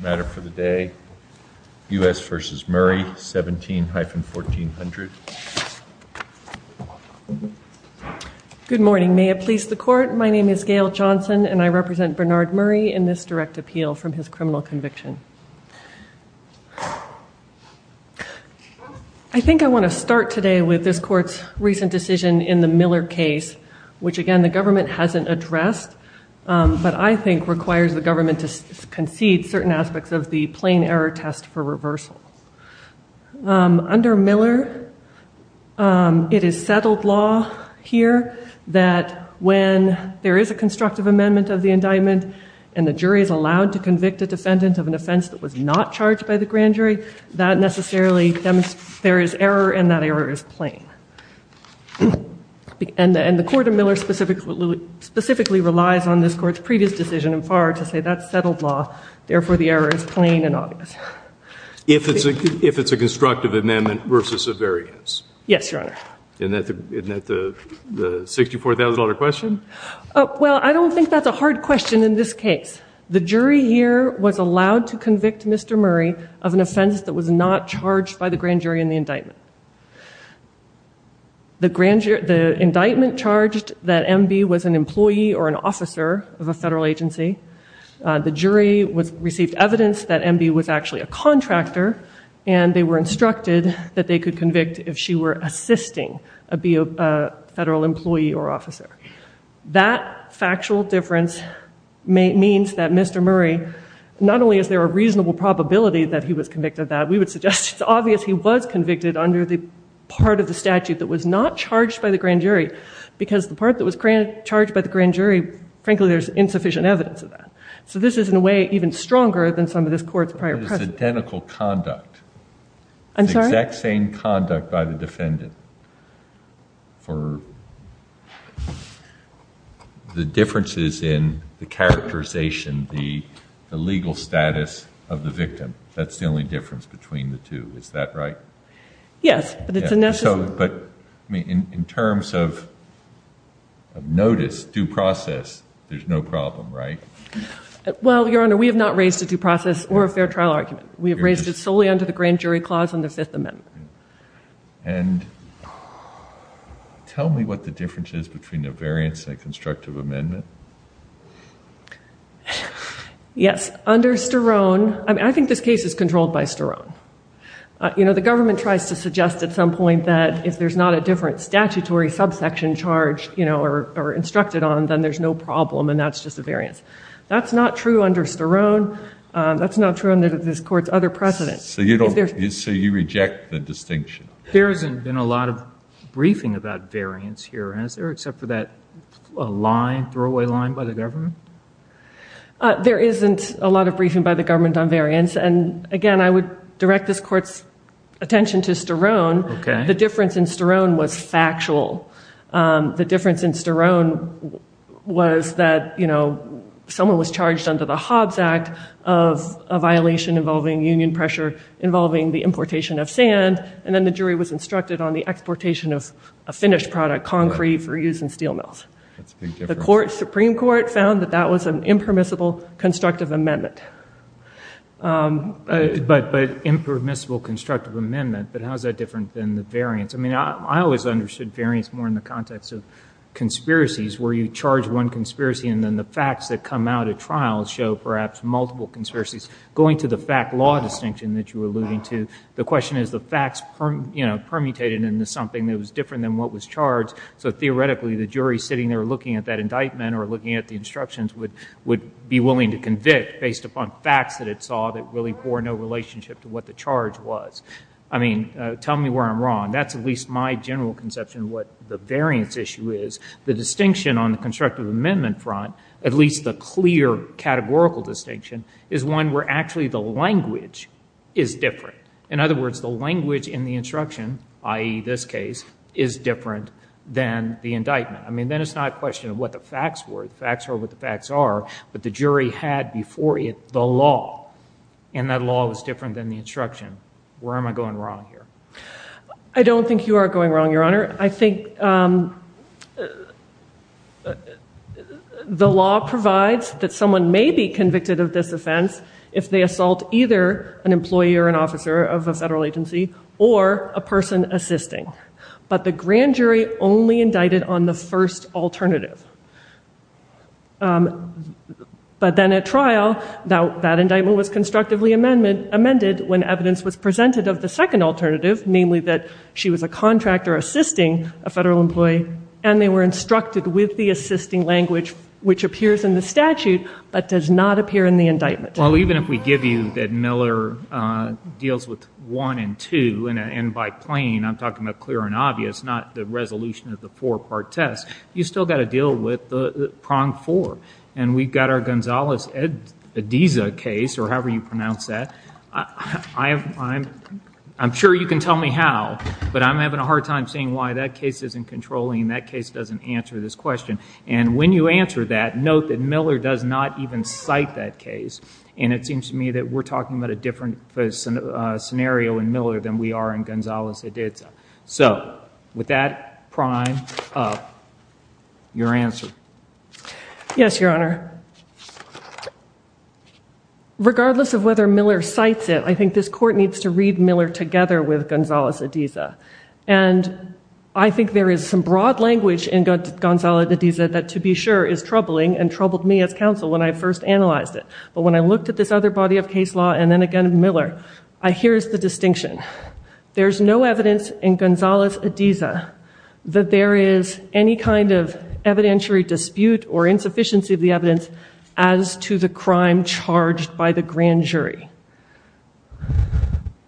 matter for the day u.s. versus Murray 17-1400 good morning may it please the court my name is Gail Johnson and I represent Bernard Murray in this direct appeal from his criminal conviction I think I want to start today with this court's recent decision in the Miller case which again the government hasn't addressed but I think requires the government to concede certain aspects of the plain error test for reversal under Miller it is settled law here that when there is a constructive amendment of the indictment and the jury is allowed to convict a defendant of an offense that was not charged by the grand jury that necessarily there is error and that error is plain and the court of Miller specifically specifically relies on this court's previous decision and far to say that's settled law therefore the error is plain and obvious if it's a if it's a constructive amendment versus a variance yes your honor and that the the $64,000 question well I don't think that's a hard question in this case the jury here was allowed to convict mr. Murray of an offense that was not charged by the grand jury in the indictment the grand jury the indictment charged that MB was an employee or an officer of a federal agency the jury was received evidence that MB was actually a contractor and they were instructed that they could convict if she were assisting a be a federal employee or officer that factual difference means that mr. Murray not only is there a reasonable probability that he was convicted that we would suggest it's obvious he was convicted under the part of the statute that was not charged by the grand jury because the part that was granted charged by the grand jury frankly there's insufficient evidence of that so this is in a way even stronger than some of this court's prior identical conduct I'm sorry that same conduct by the defendant for the differences in the characterization the legal status of the victim that's the only difference between the two is that right yes but in terms of notice due process there's no problem right well your honor we have not raised a due process or a fair trial argument we have raised it solely under the grand jury clause on the Fifth Amendment and tell me what the difference is between the variance and constructive amendment yes under sterone I think this case is controlled by sterone you know the government tries to suggest at some point that if there's not a different statutory subsection charge you know or instructed on then there's no problem and that's just a variance that's not true under sterone that's not true in this court's other precedents so you don't you see you reject the distinction there hasn't been a lot of briefing about variance here and is there except for that line throwaway line by the government there isn't a lot of briefing by the government on variance and again I would direct this courts attention to sterone okay the difference in sterone was factual the difference in sterone was that you know someone was charged under the Hobbes Act of a violation involving union pressure involving the importation of sand and then the jury was instructed on the exportation of a finished product concrete for use in steel mills the Supreme Court found that that was an impermissible constructive amendment but but impermissible constructive amendment but how's that different than the variance I mean I always understood variance more in the context of conspiracies where you charge one conspiracy and then the facts that come out at trials show perhaps multiple conspiracies going to the fact law distinction that you were alluding to the question is the facts you know permutated into something that was different than what was charged so theoretically the jury sitting there looking at that indictment or looking at the instructions would would be willing to convict based upon facts that it saw that really for no relationship to what the charge was I mean tell me where I'm wrong that's at least my general conception what the variance issue is the distinction on the constructive amendment front at least the clear categorical distinction is one where actually the language is different in other words the language in the instruction ie this case is different than the indictment I mean then it's not a question of what the facts were facts are what the facts are but the jury had before it the law and that law was different than the instruction where am I going wrong here I don't think you are going wrong your honor I think the law provides that someone may be convicted of this offense if they assault either an employee or an officer of a federal agency or a person assisting but the grand jury only indicted on the first alternative but then at trial now that indictment was constructively amendment amended when evidence was presented of the second alternative namely that she was a contractor assisting a federal employee and they were instructed with the assisting language which appears in the statute but does not appear in the indictment well even if we give you that with one and two and by plain I'm talking about clear and obvious not the resolution of the four-part test you still got to deal with the prong four and we've got our Gonzales Ed Ediza case or however you pronounce that I am I'm I'm sure you can tell me how but I'm having a hard time seeing why that case isn't controlling that case doesn't answer this question and when you answer that note that Miller does not even cite that case and it seems to me that we're in Miller than we are in Gonzales Ediza so with that prime your answer yes your honor regardless of whether Miller cites it I think this court needs to read Miller together with Gonzales Ediza and I think there is some broad language in good Gonzales Ediza that to be sure is troubling and troubled me as counsel when I first analyzed it but when I looked at this other body of case law and then again Miller I here's the distinction there's no evidence in Gonzales Ediza that there is any kind of evidentiary dispute or insufficiency of the evidence as to the crime charged by the grand jury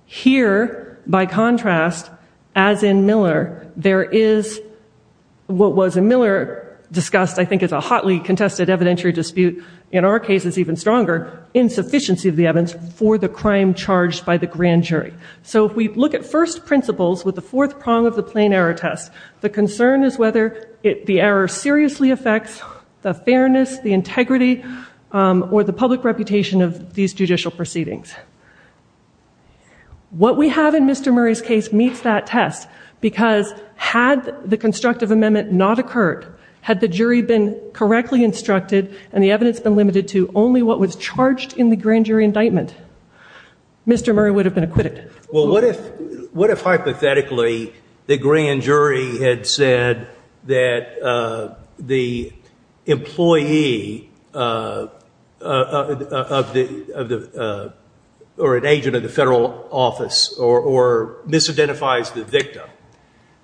here by contrast as in Miller there is what was a Miller discussed I think it's a hotly contested evidentiary dispute in our case is even stronger insufficiency of the evidence for the crime charged by the grand jury so if we look at first principles with the fourth prong of the plain error test the concern is whether it the error seriously affects the fairness the integrity or the public reputation of these judicial proceedings what we have in mr. Murray's case meets that test because had the constructive amendment not occurred had the jury been correctly instructed and the evidence been limited to only what was charged in the grand jury indictment mr. Murray would have been acquitted well what if what if hypothetically the grand jury had said that the employee of the or an agent of the federal office or misidentifies the victim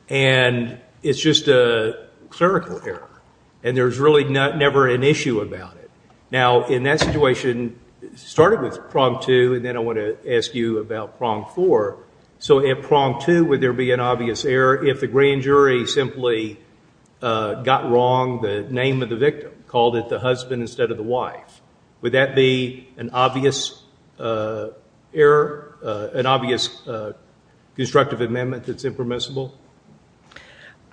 and it's just a clerical error and there's really not never an issue about it now in that situation started with prompt to and then I want to ask you about prong for so if prompt to would there be an obvious error if the grand jury simply got wrong the name of the victim called it the husband instead of the wife would that be an obvious error an obvious constructive amendment that's impermissible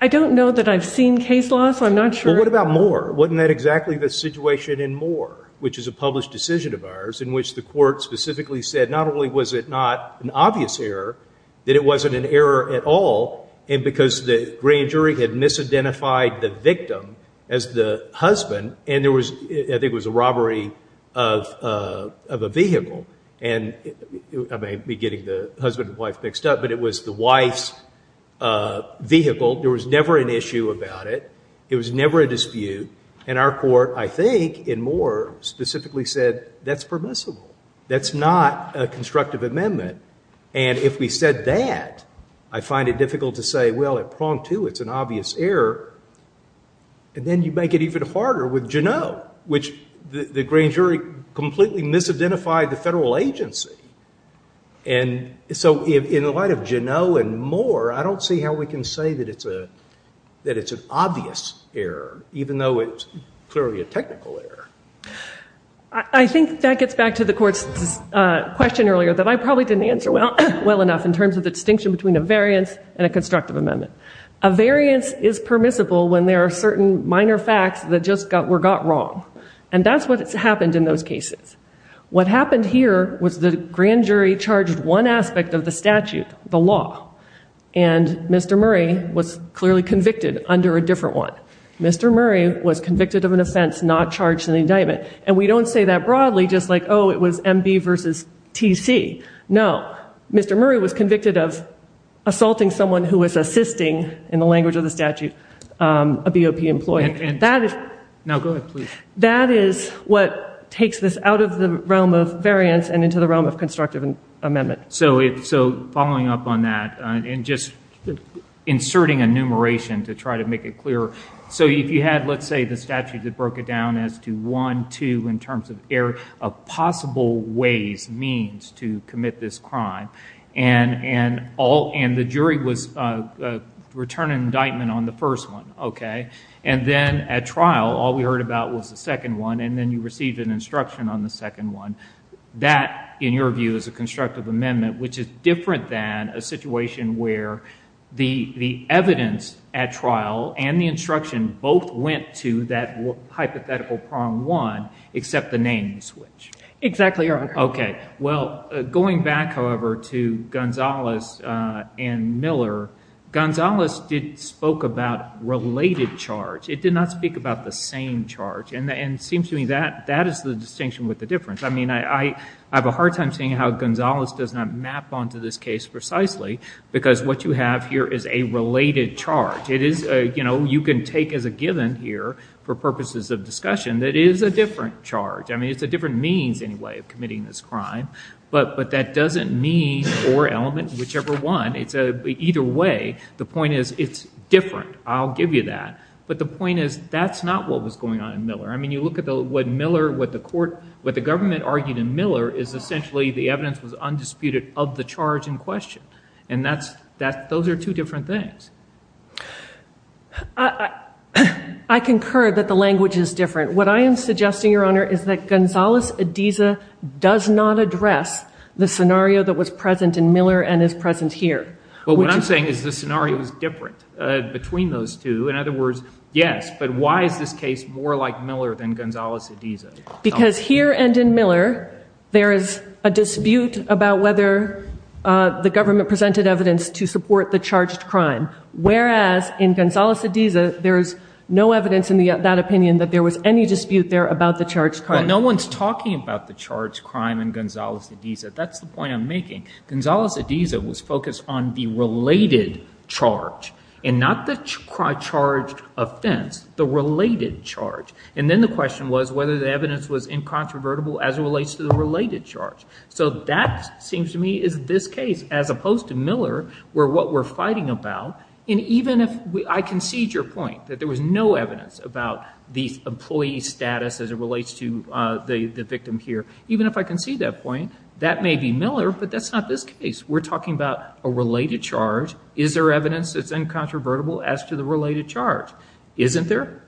I don't know that I've seen case loss I'm not sure what about more wasn't that exactly the situation in more which is a published decision of ours in which the court specifically said not only was it not an obvious error that it wasn't an error at all and because the grand jury had misidentified the victim as the husband and there was I think was a robbery of a vehicle and I may be getting the husband-wife mixed up but it was the wife's vehicle there was never an issue about it it was never a dispute and our court I think in more specifically said that's permissible that's not a constructive amendment and if we said that I find it difficult to say well it prong to it's an obvious error and then you make it even harder with you know which the grand jury completely misidentified the federal agency and so in the light of Genoa and more I don't see how we can say that it's a that it's an obvious error even though it's clearly a technical error I think that gets back to the courts question earlier that I probably didn't answer well well enough in terms of the distinction between a variance and a constructive amendment a variance is permissible when there are certain minor facts that just got were got wrong and that's what it's happened in those cases what happened here was the grand jury charged one statute the law and mr. Murray was clearly convicted under a different one mr. Murray was convicted of an offense not charged in the indictment and we don't say that broadly just like oh it was MB versus TC no mr. Murray was convicted of assaulting someone who was assisting in the language of the statute a BOP employee and that is now go ahead please that is what takes this out of the realm of variance and into the realm of constructive and amendment so it so following up on that and just inserting enumeration to try to make it clear so if you had let's say the statute that broke it down as to one two in terms of air of possible ways means to commit this crime and and all and the jury was return an indictment on the first one okay and then at trial all we heard about was the second one and then you received an instruction on the second one that in your view is a constructive amendment which is different than a situation where the the evidence at trial and the instruction both went to that hypothetical prong one except the name switch exactly okay well going back however to Gonzalez and Miller Gonzalez did spoke about related charge it did not speak about the same charge and then seems to me that that is the difference I mean I I have a hard time seeing how Gonzalez does not map onto this case precisely because what you have here is a related charge it is you know you can take as a given here for purposes of discussion that is a different charge I mean it's a different means anyway of committing this crime but but that doesn't mean or element whichever one it's a either way the point is it's different I'll give you that but the point is that's not what was going on in Miller I mean you look at the what Miller what the court what the government argued in Miller is essentially the evidence was undisputed of the charge in question and that's that those are two different things I I concur that the language is different what I am suggesting your honor is that Gonzalez Ediza does not address the scenario that was present in Miller and is present here well what I'm saying is the scenario is different between those two in other words yes but why is this case more like Miller than Gonzalez Ediza because here and in Miller there is a dispute about whether the government presented evidence to support the charged crime whereas in Gonzalez Ediza there's no evidence in the that opinion that there was any dispute there about the charged crime no one's talking about the charge crime and Gonzalez Ediza that's the point I'm making Gonzalez Ediza was focused on the related charge and not the charge offense the related charge and then the question was whether the evidence was incontrovertible as it relates to the related charge so that seems to me is this case as opposed to Miller where what we're fighting about and even if I concede your point that there was no evidence about these employees status as it relates to the the victim here even if I can see that point that may be Miller but that's not this case we're is there evidence it's incontrovertible as to the related charge isn't there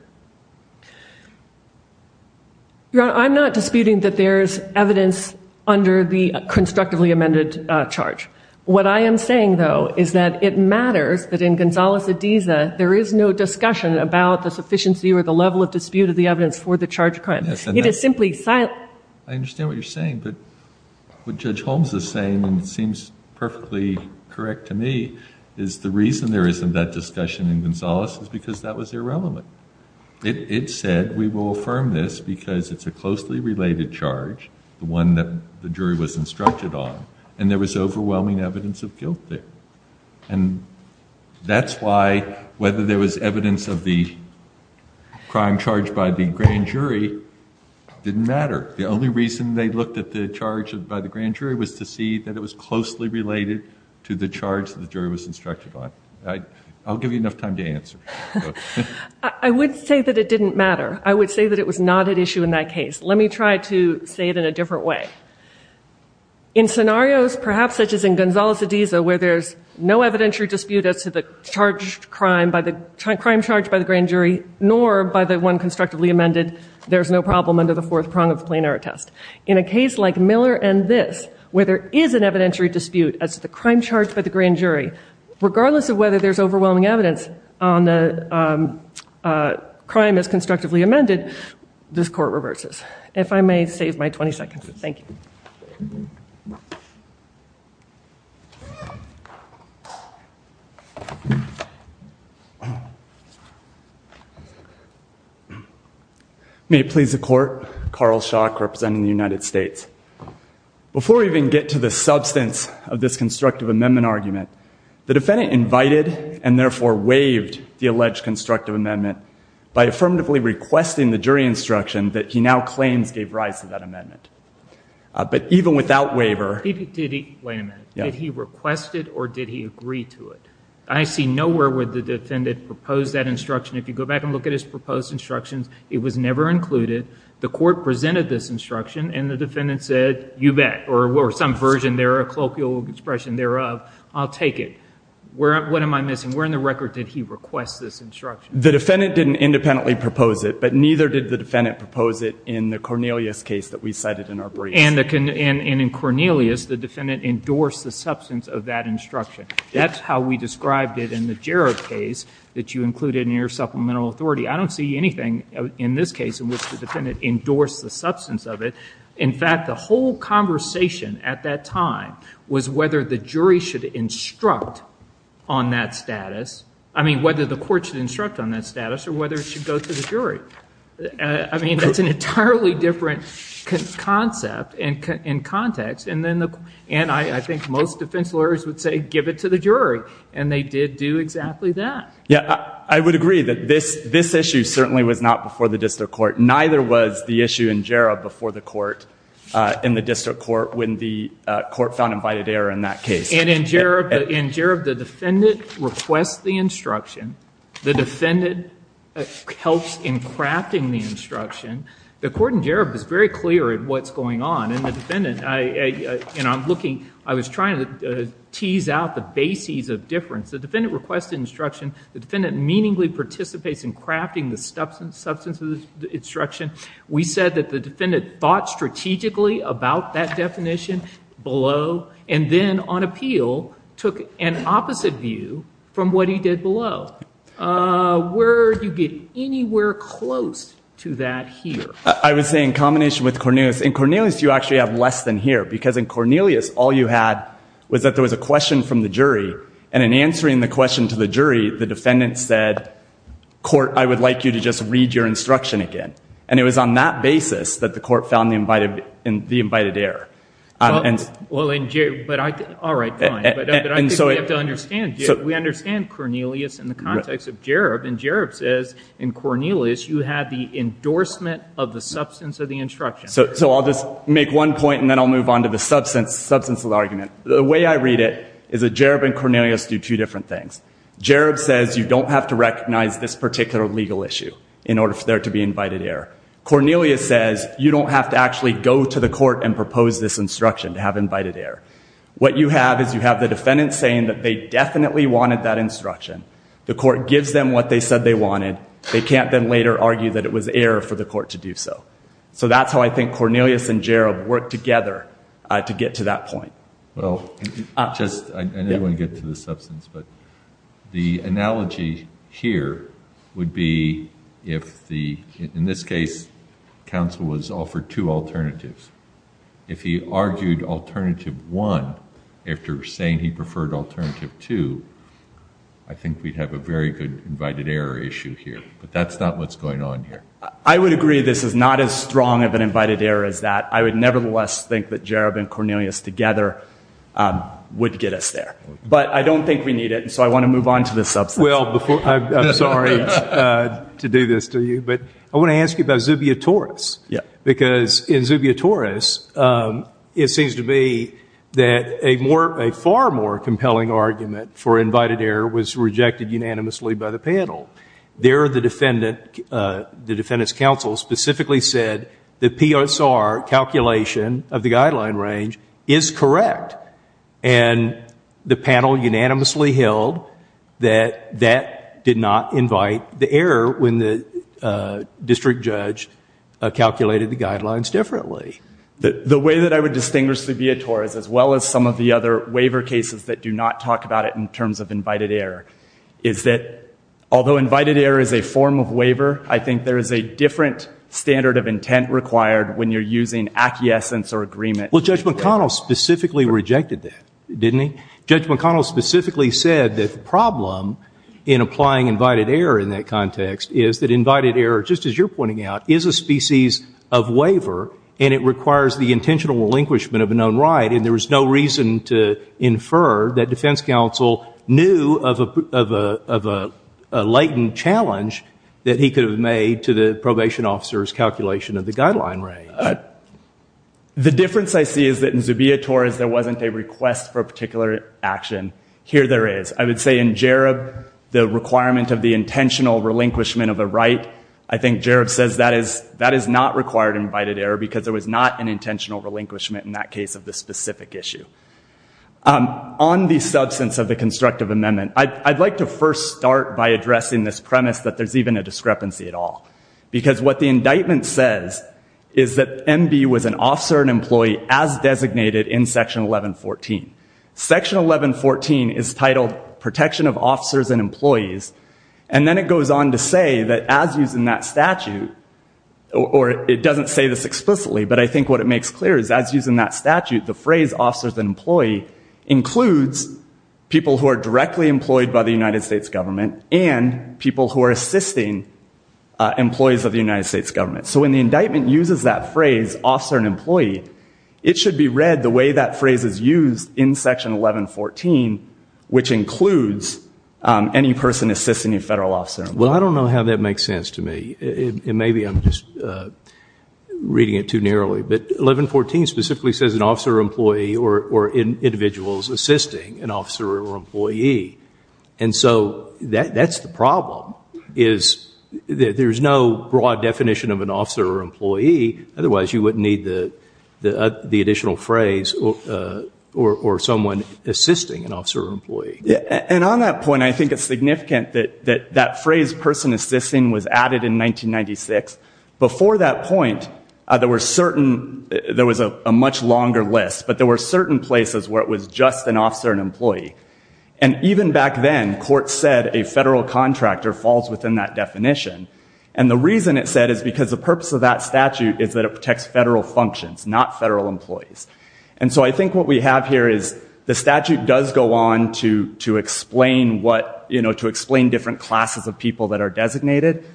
I'm not disputing that there's evidence under the constructively amended charge what I am saying though is that it matters that in Gonzalez Ediza there is no discussion about the sufficiency or the level of dispute of the evidence for the charge crime it is simply silent I understand what you're saying but what is the reason there isn't that discussion in Gonzalez is because that was irrelevant it said we will affirm this because it's a closely related charge the one that the jury was instructed on and there was overwhelming evidence of guilt there and that's why whether there was evidence of the crime charged by the grand jury didn't matter the only reason they looked at the charge of by the grand jury was to see that it was closely related to the charge the jury was instructed on I'll give you enough time to answer I would say that it didn't matter I would say that it was not an issue in that case let me try to say it in a different way in scenarios perhaps such as in Gonzalez Ediza where there's no evidentiary dispute as to the charge crime by the crime charged by the grand jury nor by the one constructively amended there's no problem under the fourth prong of the plenary test in a as to the crime charged by the grand jury regardless of whether there's overwhelming evidence on the crime as constructively amended this court reverses if I may save my 20 seconds thank you may it please the court Carl shock representing the United States before we even get to the substance of this constructive amendment argument the defendant invited and therefore waived the alleged constructive amendment by affirmatively requesting the jury instruction that he now claims gave rise to that amendment but even without waiver he did he wait a minute yeah he requested or did he agree to it I see nowhere where the defendant proposed that instruction if you go back and look at his proposed instructions it was never included the court presented this instruction and the defendant said you or some version there a colloquial expression thereof I'll take it where what am I missing we're in the record did he request this instruction the defendant didn't independently propose it but neither did the defendant propose it in the Cornelius case that we cited in our brief and the can and in Cornelius the defendant endorsed the substance of that instruction that's how we described it in the Jarrett case that you included in your supplemental authority I don't see anything in this case in which the defendant endorsed the substance of it in fact the whole conversation at that time was whether the jury should instruct on that status I mean whether the court should instruct on that status or whether it should go to the jury I mean that's an entirely different concept and in context and then the and I think most defense lawyers would say give it to the jury and they did do exactly that yeah I would agree that this this issue certainly was not before the district court neither was the issue in Jarrett before the court in the district court when the court found invited error in that case and in Jarrett in Jarrett the defendant requests the instruction the defendant helps in crafting the instruction the court in Jarrett is very clear at what's going on in the defendant I you know I'm looking I was trying to tease out the bases of difference the defendant requested instruction the defendant meaningfully participates in crafting the substance substance of the instruction we said that the defendant thought strategically about that definition below and then on appeal took an opposite view from what he did below where do you get anywhere close to that here I was saying combination with Cornelius in Cornelius you actually have less than here because in Cornelius all you had was that there was a question from the jury and in answering the question to the jury the defendant said court I would like you to just read your instruction again and it was on that basis that the court found the invited in the invited air and well in jail but I did all right and so I have to understand so we understand Cornelius in the context of Jarrett and Jarrett says in Cornelius you had the endorsement of the substance of the instruction so so I'll just make one point and then I'll move on to the substance substance of argument the way I read it is a Jarrett and Cornelius do two different things Jarrett says you don't have to recognize this particular legal issue in order for there to be invited air Cornelius says you don't have to actually go to the court and propose this instruction to have invited air what you have is you have the defendant saying that they definitely wanted that instruction the court gives them what they said they wanted they can't then later argue that it was air for the court to do so so that's how I think Cornelius and Jarrett work together to get to that point the analogy here would be if the in this case counsel was offered two alternatives if he argued alternative one after saying he preferred alternative to I think we'd have a very good invited air issue here but that's not what's going on here I would agree this is not as strong of an invited air as that I would nevertheless think that Jarrett and Cornelius together would get us there but I don't think we need it and so I want to move on to this up well before I'm sorry to do this to you but I want to ask you about Zubia Taurus yeah because in Zubia Taurus it seems to be that a more a far more compelling argument for invited air was rejected unanimously by the panel there the defendant the defendants counsel specifically said the PSR calculation of the guideline range is correct and the panel unanimously held that that did not invite the error when the district judge calculated the guidelines differently that the way that I would distinguish the viator is as well as some of the other waiver cases that do not talk about it in terms of invited air is that although invited air is a form of waiver I think there is a different standard of intent required when you're using acquiescence or agreement well judge McConnell specifically rejected that didn't he judge McConnell specifically said that the problem in applying invited air in that context is that invited air just as you're pointing out is a species of waiver and it requires the intentional relinquishment of a known right and there was no reason to infer that defense counsel knew of a latent challenge that he could have made to the probation officers calculation of the guideline range the difference I see is that in Zubia Taurus there wasn't a request for a particular action here there is I would say in Jarob the requirement of the intentional relinquishment of a right I think Jarob says that is that is not required invited error because there was not an issue on the substance of the constructive amendment I'd like to first start by addressing this premise that there's even a discrepancy at all because what the indictment says is that MB was an officer and employee as designated in section 1114 section 1114 is titled protection of officers and employees and then it goes on to say that as using that statute or it doesn't say this explicitly but I think what it makes clear is as using that statute the phrase officers and employee includes people who are directly employed by the United States government and people who are assisting employees of the United States government so when the indictment uses that phrase officer and employee it should be read the way that phrase is used in section 1114 which includes any person assisting a federal officer well I don't know how that makes sense to me and maybe I'm just reading it too employee or in individuals assisting an officer or employee and so that that's the problem is there's no broad definition of an officer or employee otherwise you wouldn't need the the additional phrase or someone assisting an officer employee yeah and on that point I think it's significant that that that phrase person assisting was added in 1996 before that point there were certain there was a much longer list but there were certain places where it was just an officer and employee and even back then court said a federal contractor falls within that definition and the reason it said is because the purpose of that statute is that it protects federal functions not federal employees and so I think what we have here is the statute does go on to to explain what you know to explain different classes of people that are designated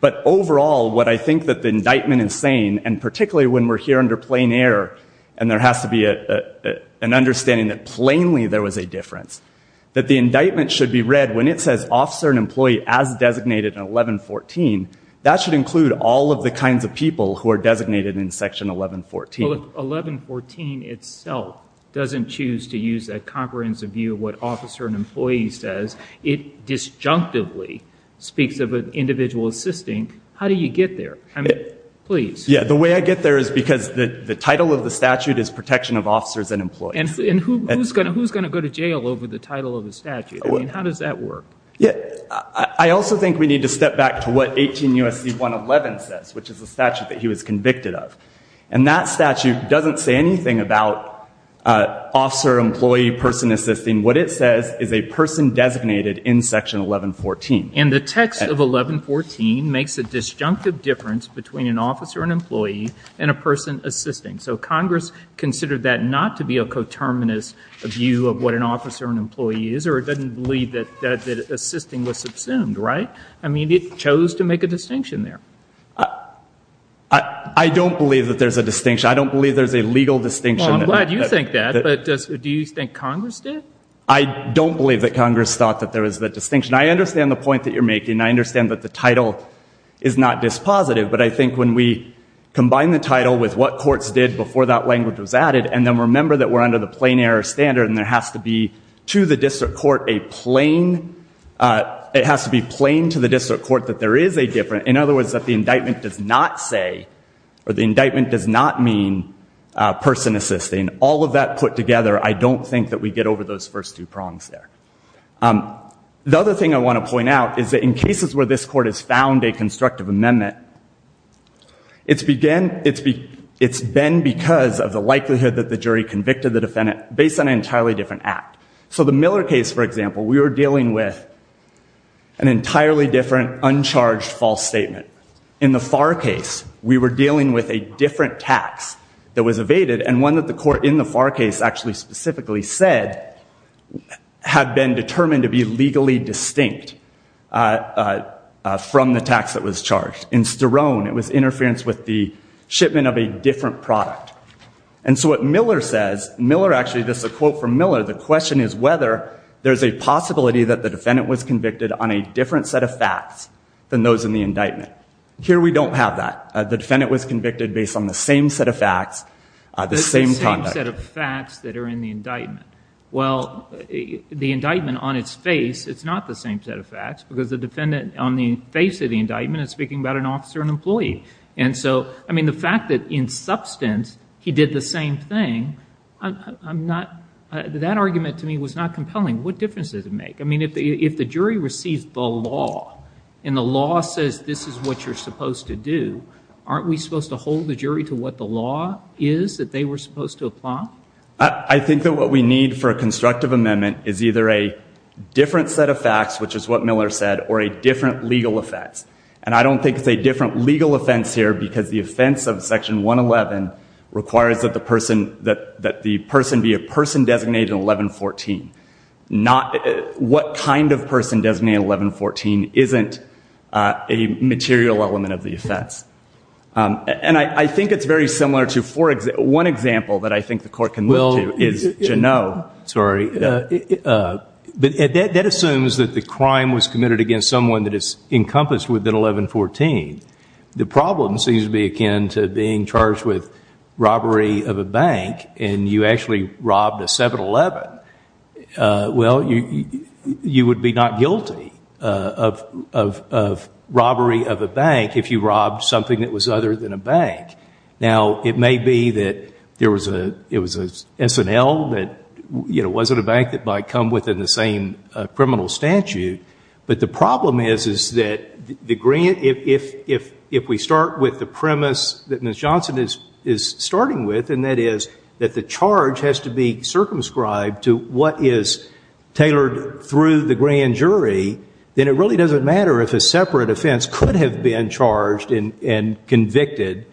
but overall what I think that the indictment is saying and particularly when we're here under plain air and there has to be a an understanding that plainly there was a difference that the indictment should be read when it says officer and employee as designated in 1114 that should include all of the kinds of people who are designated in section 1114 1114 itself doesn't choose to use that comprehensive view of what officer and employee says it disjunctively speaks of an individual assisting how do you get there I mean please yeah the way I get there is because the the title of the statute is protection of officers and employees and who's gonna who's gonna go to jail over the title of the statute I mean how does that work yeah I also think we need to step back to what 18 USC 111 says which is a statute that he was convicted of and that statute doesn't say anything about officer employee person assisting what it says is a person designated in section 1114 and the text of 1114 makes a disjunctive difference between an officer and employee and a person assisting so Congress considered that not to be a coterminous of you of what an officer and employee is or it doesn't believe that that assisting was subsumed right I mean it chose to make a distinction there I don't believe that there's a distinction I don't believe there's a legal distinction I'm glad you think that but just do you think Congress did I don't believe that Congress thought that there is that distinction I understand the point that you're making I understand that the title is not dispositive but I think when we combine the title with what courts did before that language was added and then remember that we're under the plain error standard and there has to be to the district court a plain it has to be plain to the district court that there is a different in other words that the indictment does not say or the indictment does not mean person assisting all of that put together I don't think that we get over those first two prongs there the other thing I want to point out is that in cases where this court has found a constructive amendment it's began it's been it's been because of the likelihood that the jury convicted the defendant based on an entirely different act so the Miller case for example we were dealing with an entirely different uncharged false statement in the far case we were dealing with a different tax that was evaded and one that the court in the far case actually specifically said had been determined to be legally distinct from the tax that was charged in sterone it was interference with the shipment of a different product and so what Miller says Miller actually this is a quote from Miller the question is whether there's a possibility that the defendant was convicted on a different set of facts than those in the indictment here we don't have that the defendant was convicted based on the same set of facts the same set of facts that are in the indictment well the indictment on its face it's not the same set of facts because the defendant on the face of the indictment is speaking about an officer an employee and so I mean the fact that in substance he did the same thing I'm not that argument to me was not compelling what difference does it make I mean if the if the jury receives the law and the law says this is what you're supposed to do aren't we supposed to hold the jury to what the law is that they were supposed to apply I think that what we need for a constructive amendment is either a different set of facts which is what Miller said or a different legal offense and I don't think it's a different legal offense here because the offense of section 111 requires that the person that that the person be a person designated 1114 not what kind of person 1114 isn't a material element of the offense and I think it's very similar to for example one example that I think the court can will is you know sorry but that assumes that the crime was committed against someone that is encompassed within 1114 the problem seems to be akin to being charged with robbery of a bank and you actually robbed a 7-eleven well you you would be not guilty of robbery of a bank if you robbed something that was other than a bank now it may be that there was a it was a SNL that you know wasn't a bank that might come within the same criminal statute but the problem is is that the grant if if if we start with the premise that Miss Johnson is is starting with and that is that the charge has to be circumscribed to what is tailored through the grand jury then it really doesn't matter if a separate offense could have been charged in and convicted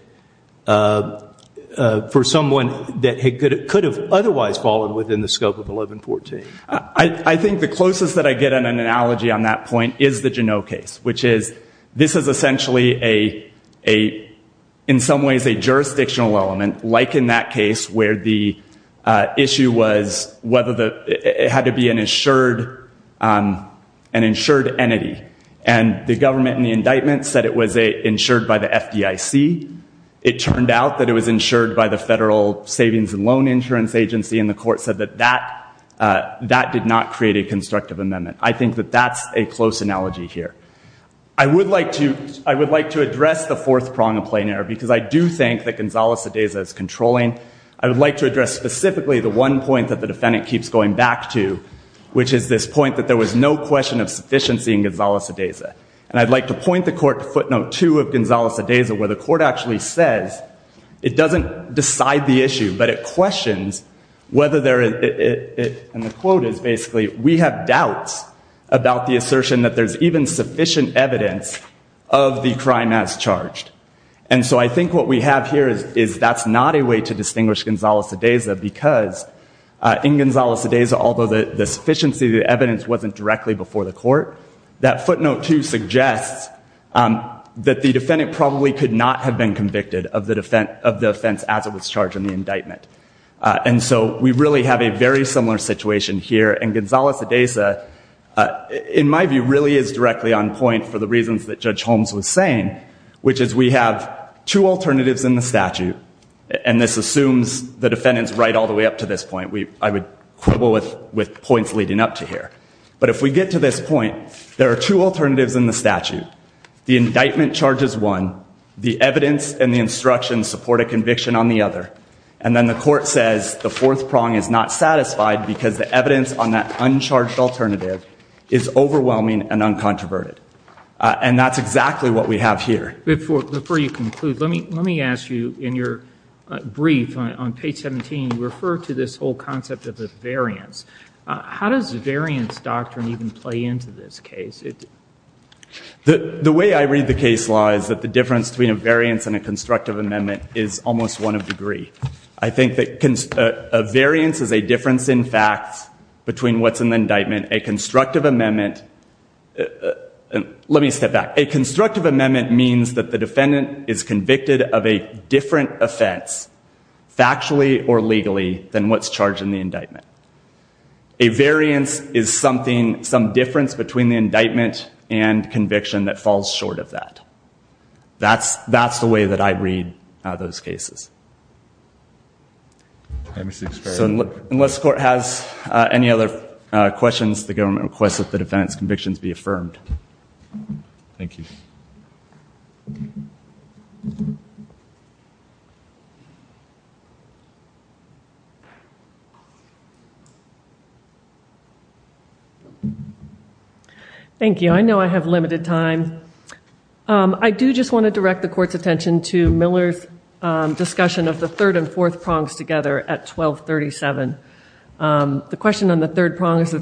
for someone that had could have otherwise fallen within the scope of 1114 I think the closest that I get an analogy on that point is the Genoa case which is this is essentially a a in some ways a jurisdictional element like in that case where the issue was whether the it had to be an insured an insured entity and the government in the indictment said it was a insured by the FDIC it turned out that it was insured by the Federal Savings and Loan Insurance Agency and the court said that that that did not create a constructive amendment I think that that's a close analogy here I would like to I would like to address the fourth prong of plain error because I do think that Gonzalo Cedesa is controlling I would like to address specifically the one point that the defendant keeps going back to which is this point that there was no question of sufficiency in Gonzalo Cedesa and I'd like to point the court footnote to of Gonzalo Cedesa where the court actually says it doesn't decide the issue but it questions whether there is it and the quote is basically we have doubts about the assertion that there's even sufficient evidence of the crime as charged and so I think what we have here is is that's not a way to distinguish Gonzalo Cedesa because in Gonzalo Cedesa although the sufficiency the evidence wasn't directly before the court that footnote to suggests that the defendant probably could not have been convicted of the defense of the offense as it was charged in the indictment and so we really have a very similar situation here and Gonzalo Cedesa in my view really is directly on point for the reasons that Judge Holmes was saying which is we have two alternatives in the statute and this assumes the defendants right all the way up to this point we I would quibble with with points leading up to here but if we get to this point there are two alternatives in the statute the indictment charges one the evidence and the instructions support a conviction on the other and then the court says the fourth prong is not satisfied because the evidence on that uncharged alternative is exactly what we have here before you conclude let me let me ask you in your brief on page 17 refer to this whole concept of the variance how does the variance doctrine even play into this case it the the way I read the case law is that the difference between a variance and a constructive amendment is almost one of degree I think that can variance is a difference in fact between what's in the indictment a constructive amendment and let me step back a constructive amendment means that the defendant is convicted of a different offense factually or legally than what's charged in the indictment a variance is something some difference between the indictment and conviction that falls short of that that's that's the way that I read those cases unless court has any other questions the government requests that the defense convictions be affirmed thank you thank you I know I have limited time I do just want to direct the court's attention to Miller's discussion of the third and fourth prongs together at 1237 the question on the third prong is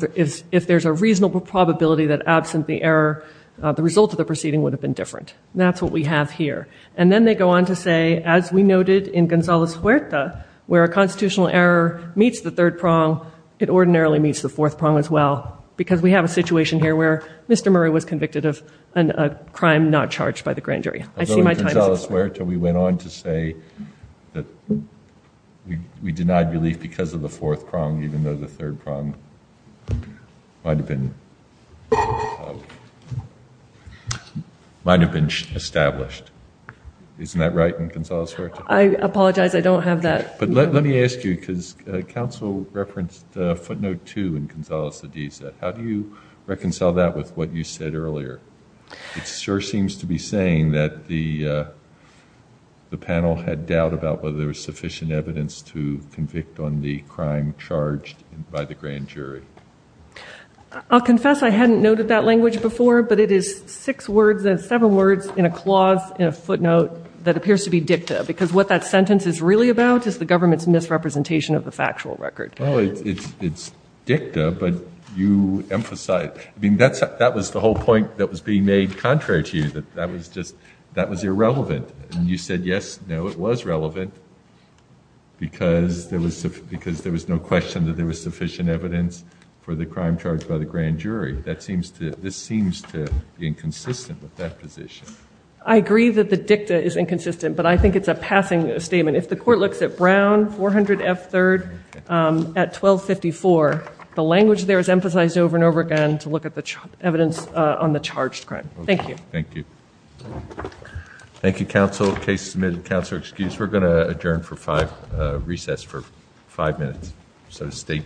if there's a reasonable probability that absent the error the result of the proceeding would have been different that's what we have here and then they go on to say as we noted in Gonzalo's Huerta where a constitutional error meets the third prong it ordinarily meets the fourth prong as well because we have a situation here where mr. Murray was convicted of a crime not charged by the grand jury we went on to say that we denied relief because of the fourth prong even though the third prong might have been might have been established isn't that right in Gonzalo's Huerta I apologize I don't have that but let me ask you because council referenced footnote 2 in Gonzalo's Hadiza how do you reconcile that with what you said earlier it sure seems to be saying that the the panel had doubt about whether there was sufficient evidence to convict on the crime charged by the grand jury I'll confess I hadn't noted that language before but it is six words as seven words in a clause in a footnote that appears to be dicta because what that sentence is really about is the government's misrepresentation of the factual record oh it's it's dicta but you emphasize I mean that's that was the whole point that was being made contrary to you that that was just that was relevant because there was because there was no question that there was sufficient evidence for the crime charged by the grand jury that seems to this seems to be inconsistent with that position I agree that the dicta is inconsistent but I think it's a passing statement if the court looks at Brown 400 f-3rd at 1254 the language there is emphasized over and over again to look at the evidence on the charged crime thank you thank you thank you counsel case submitted counselor excuse we're going to adjourn for five recess for five minutes so state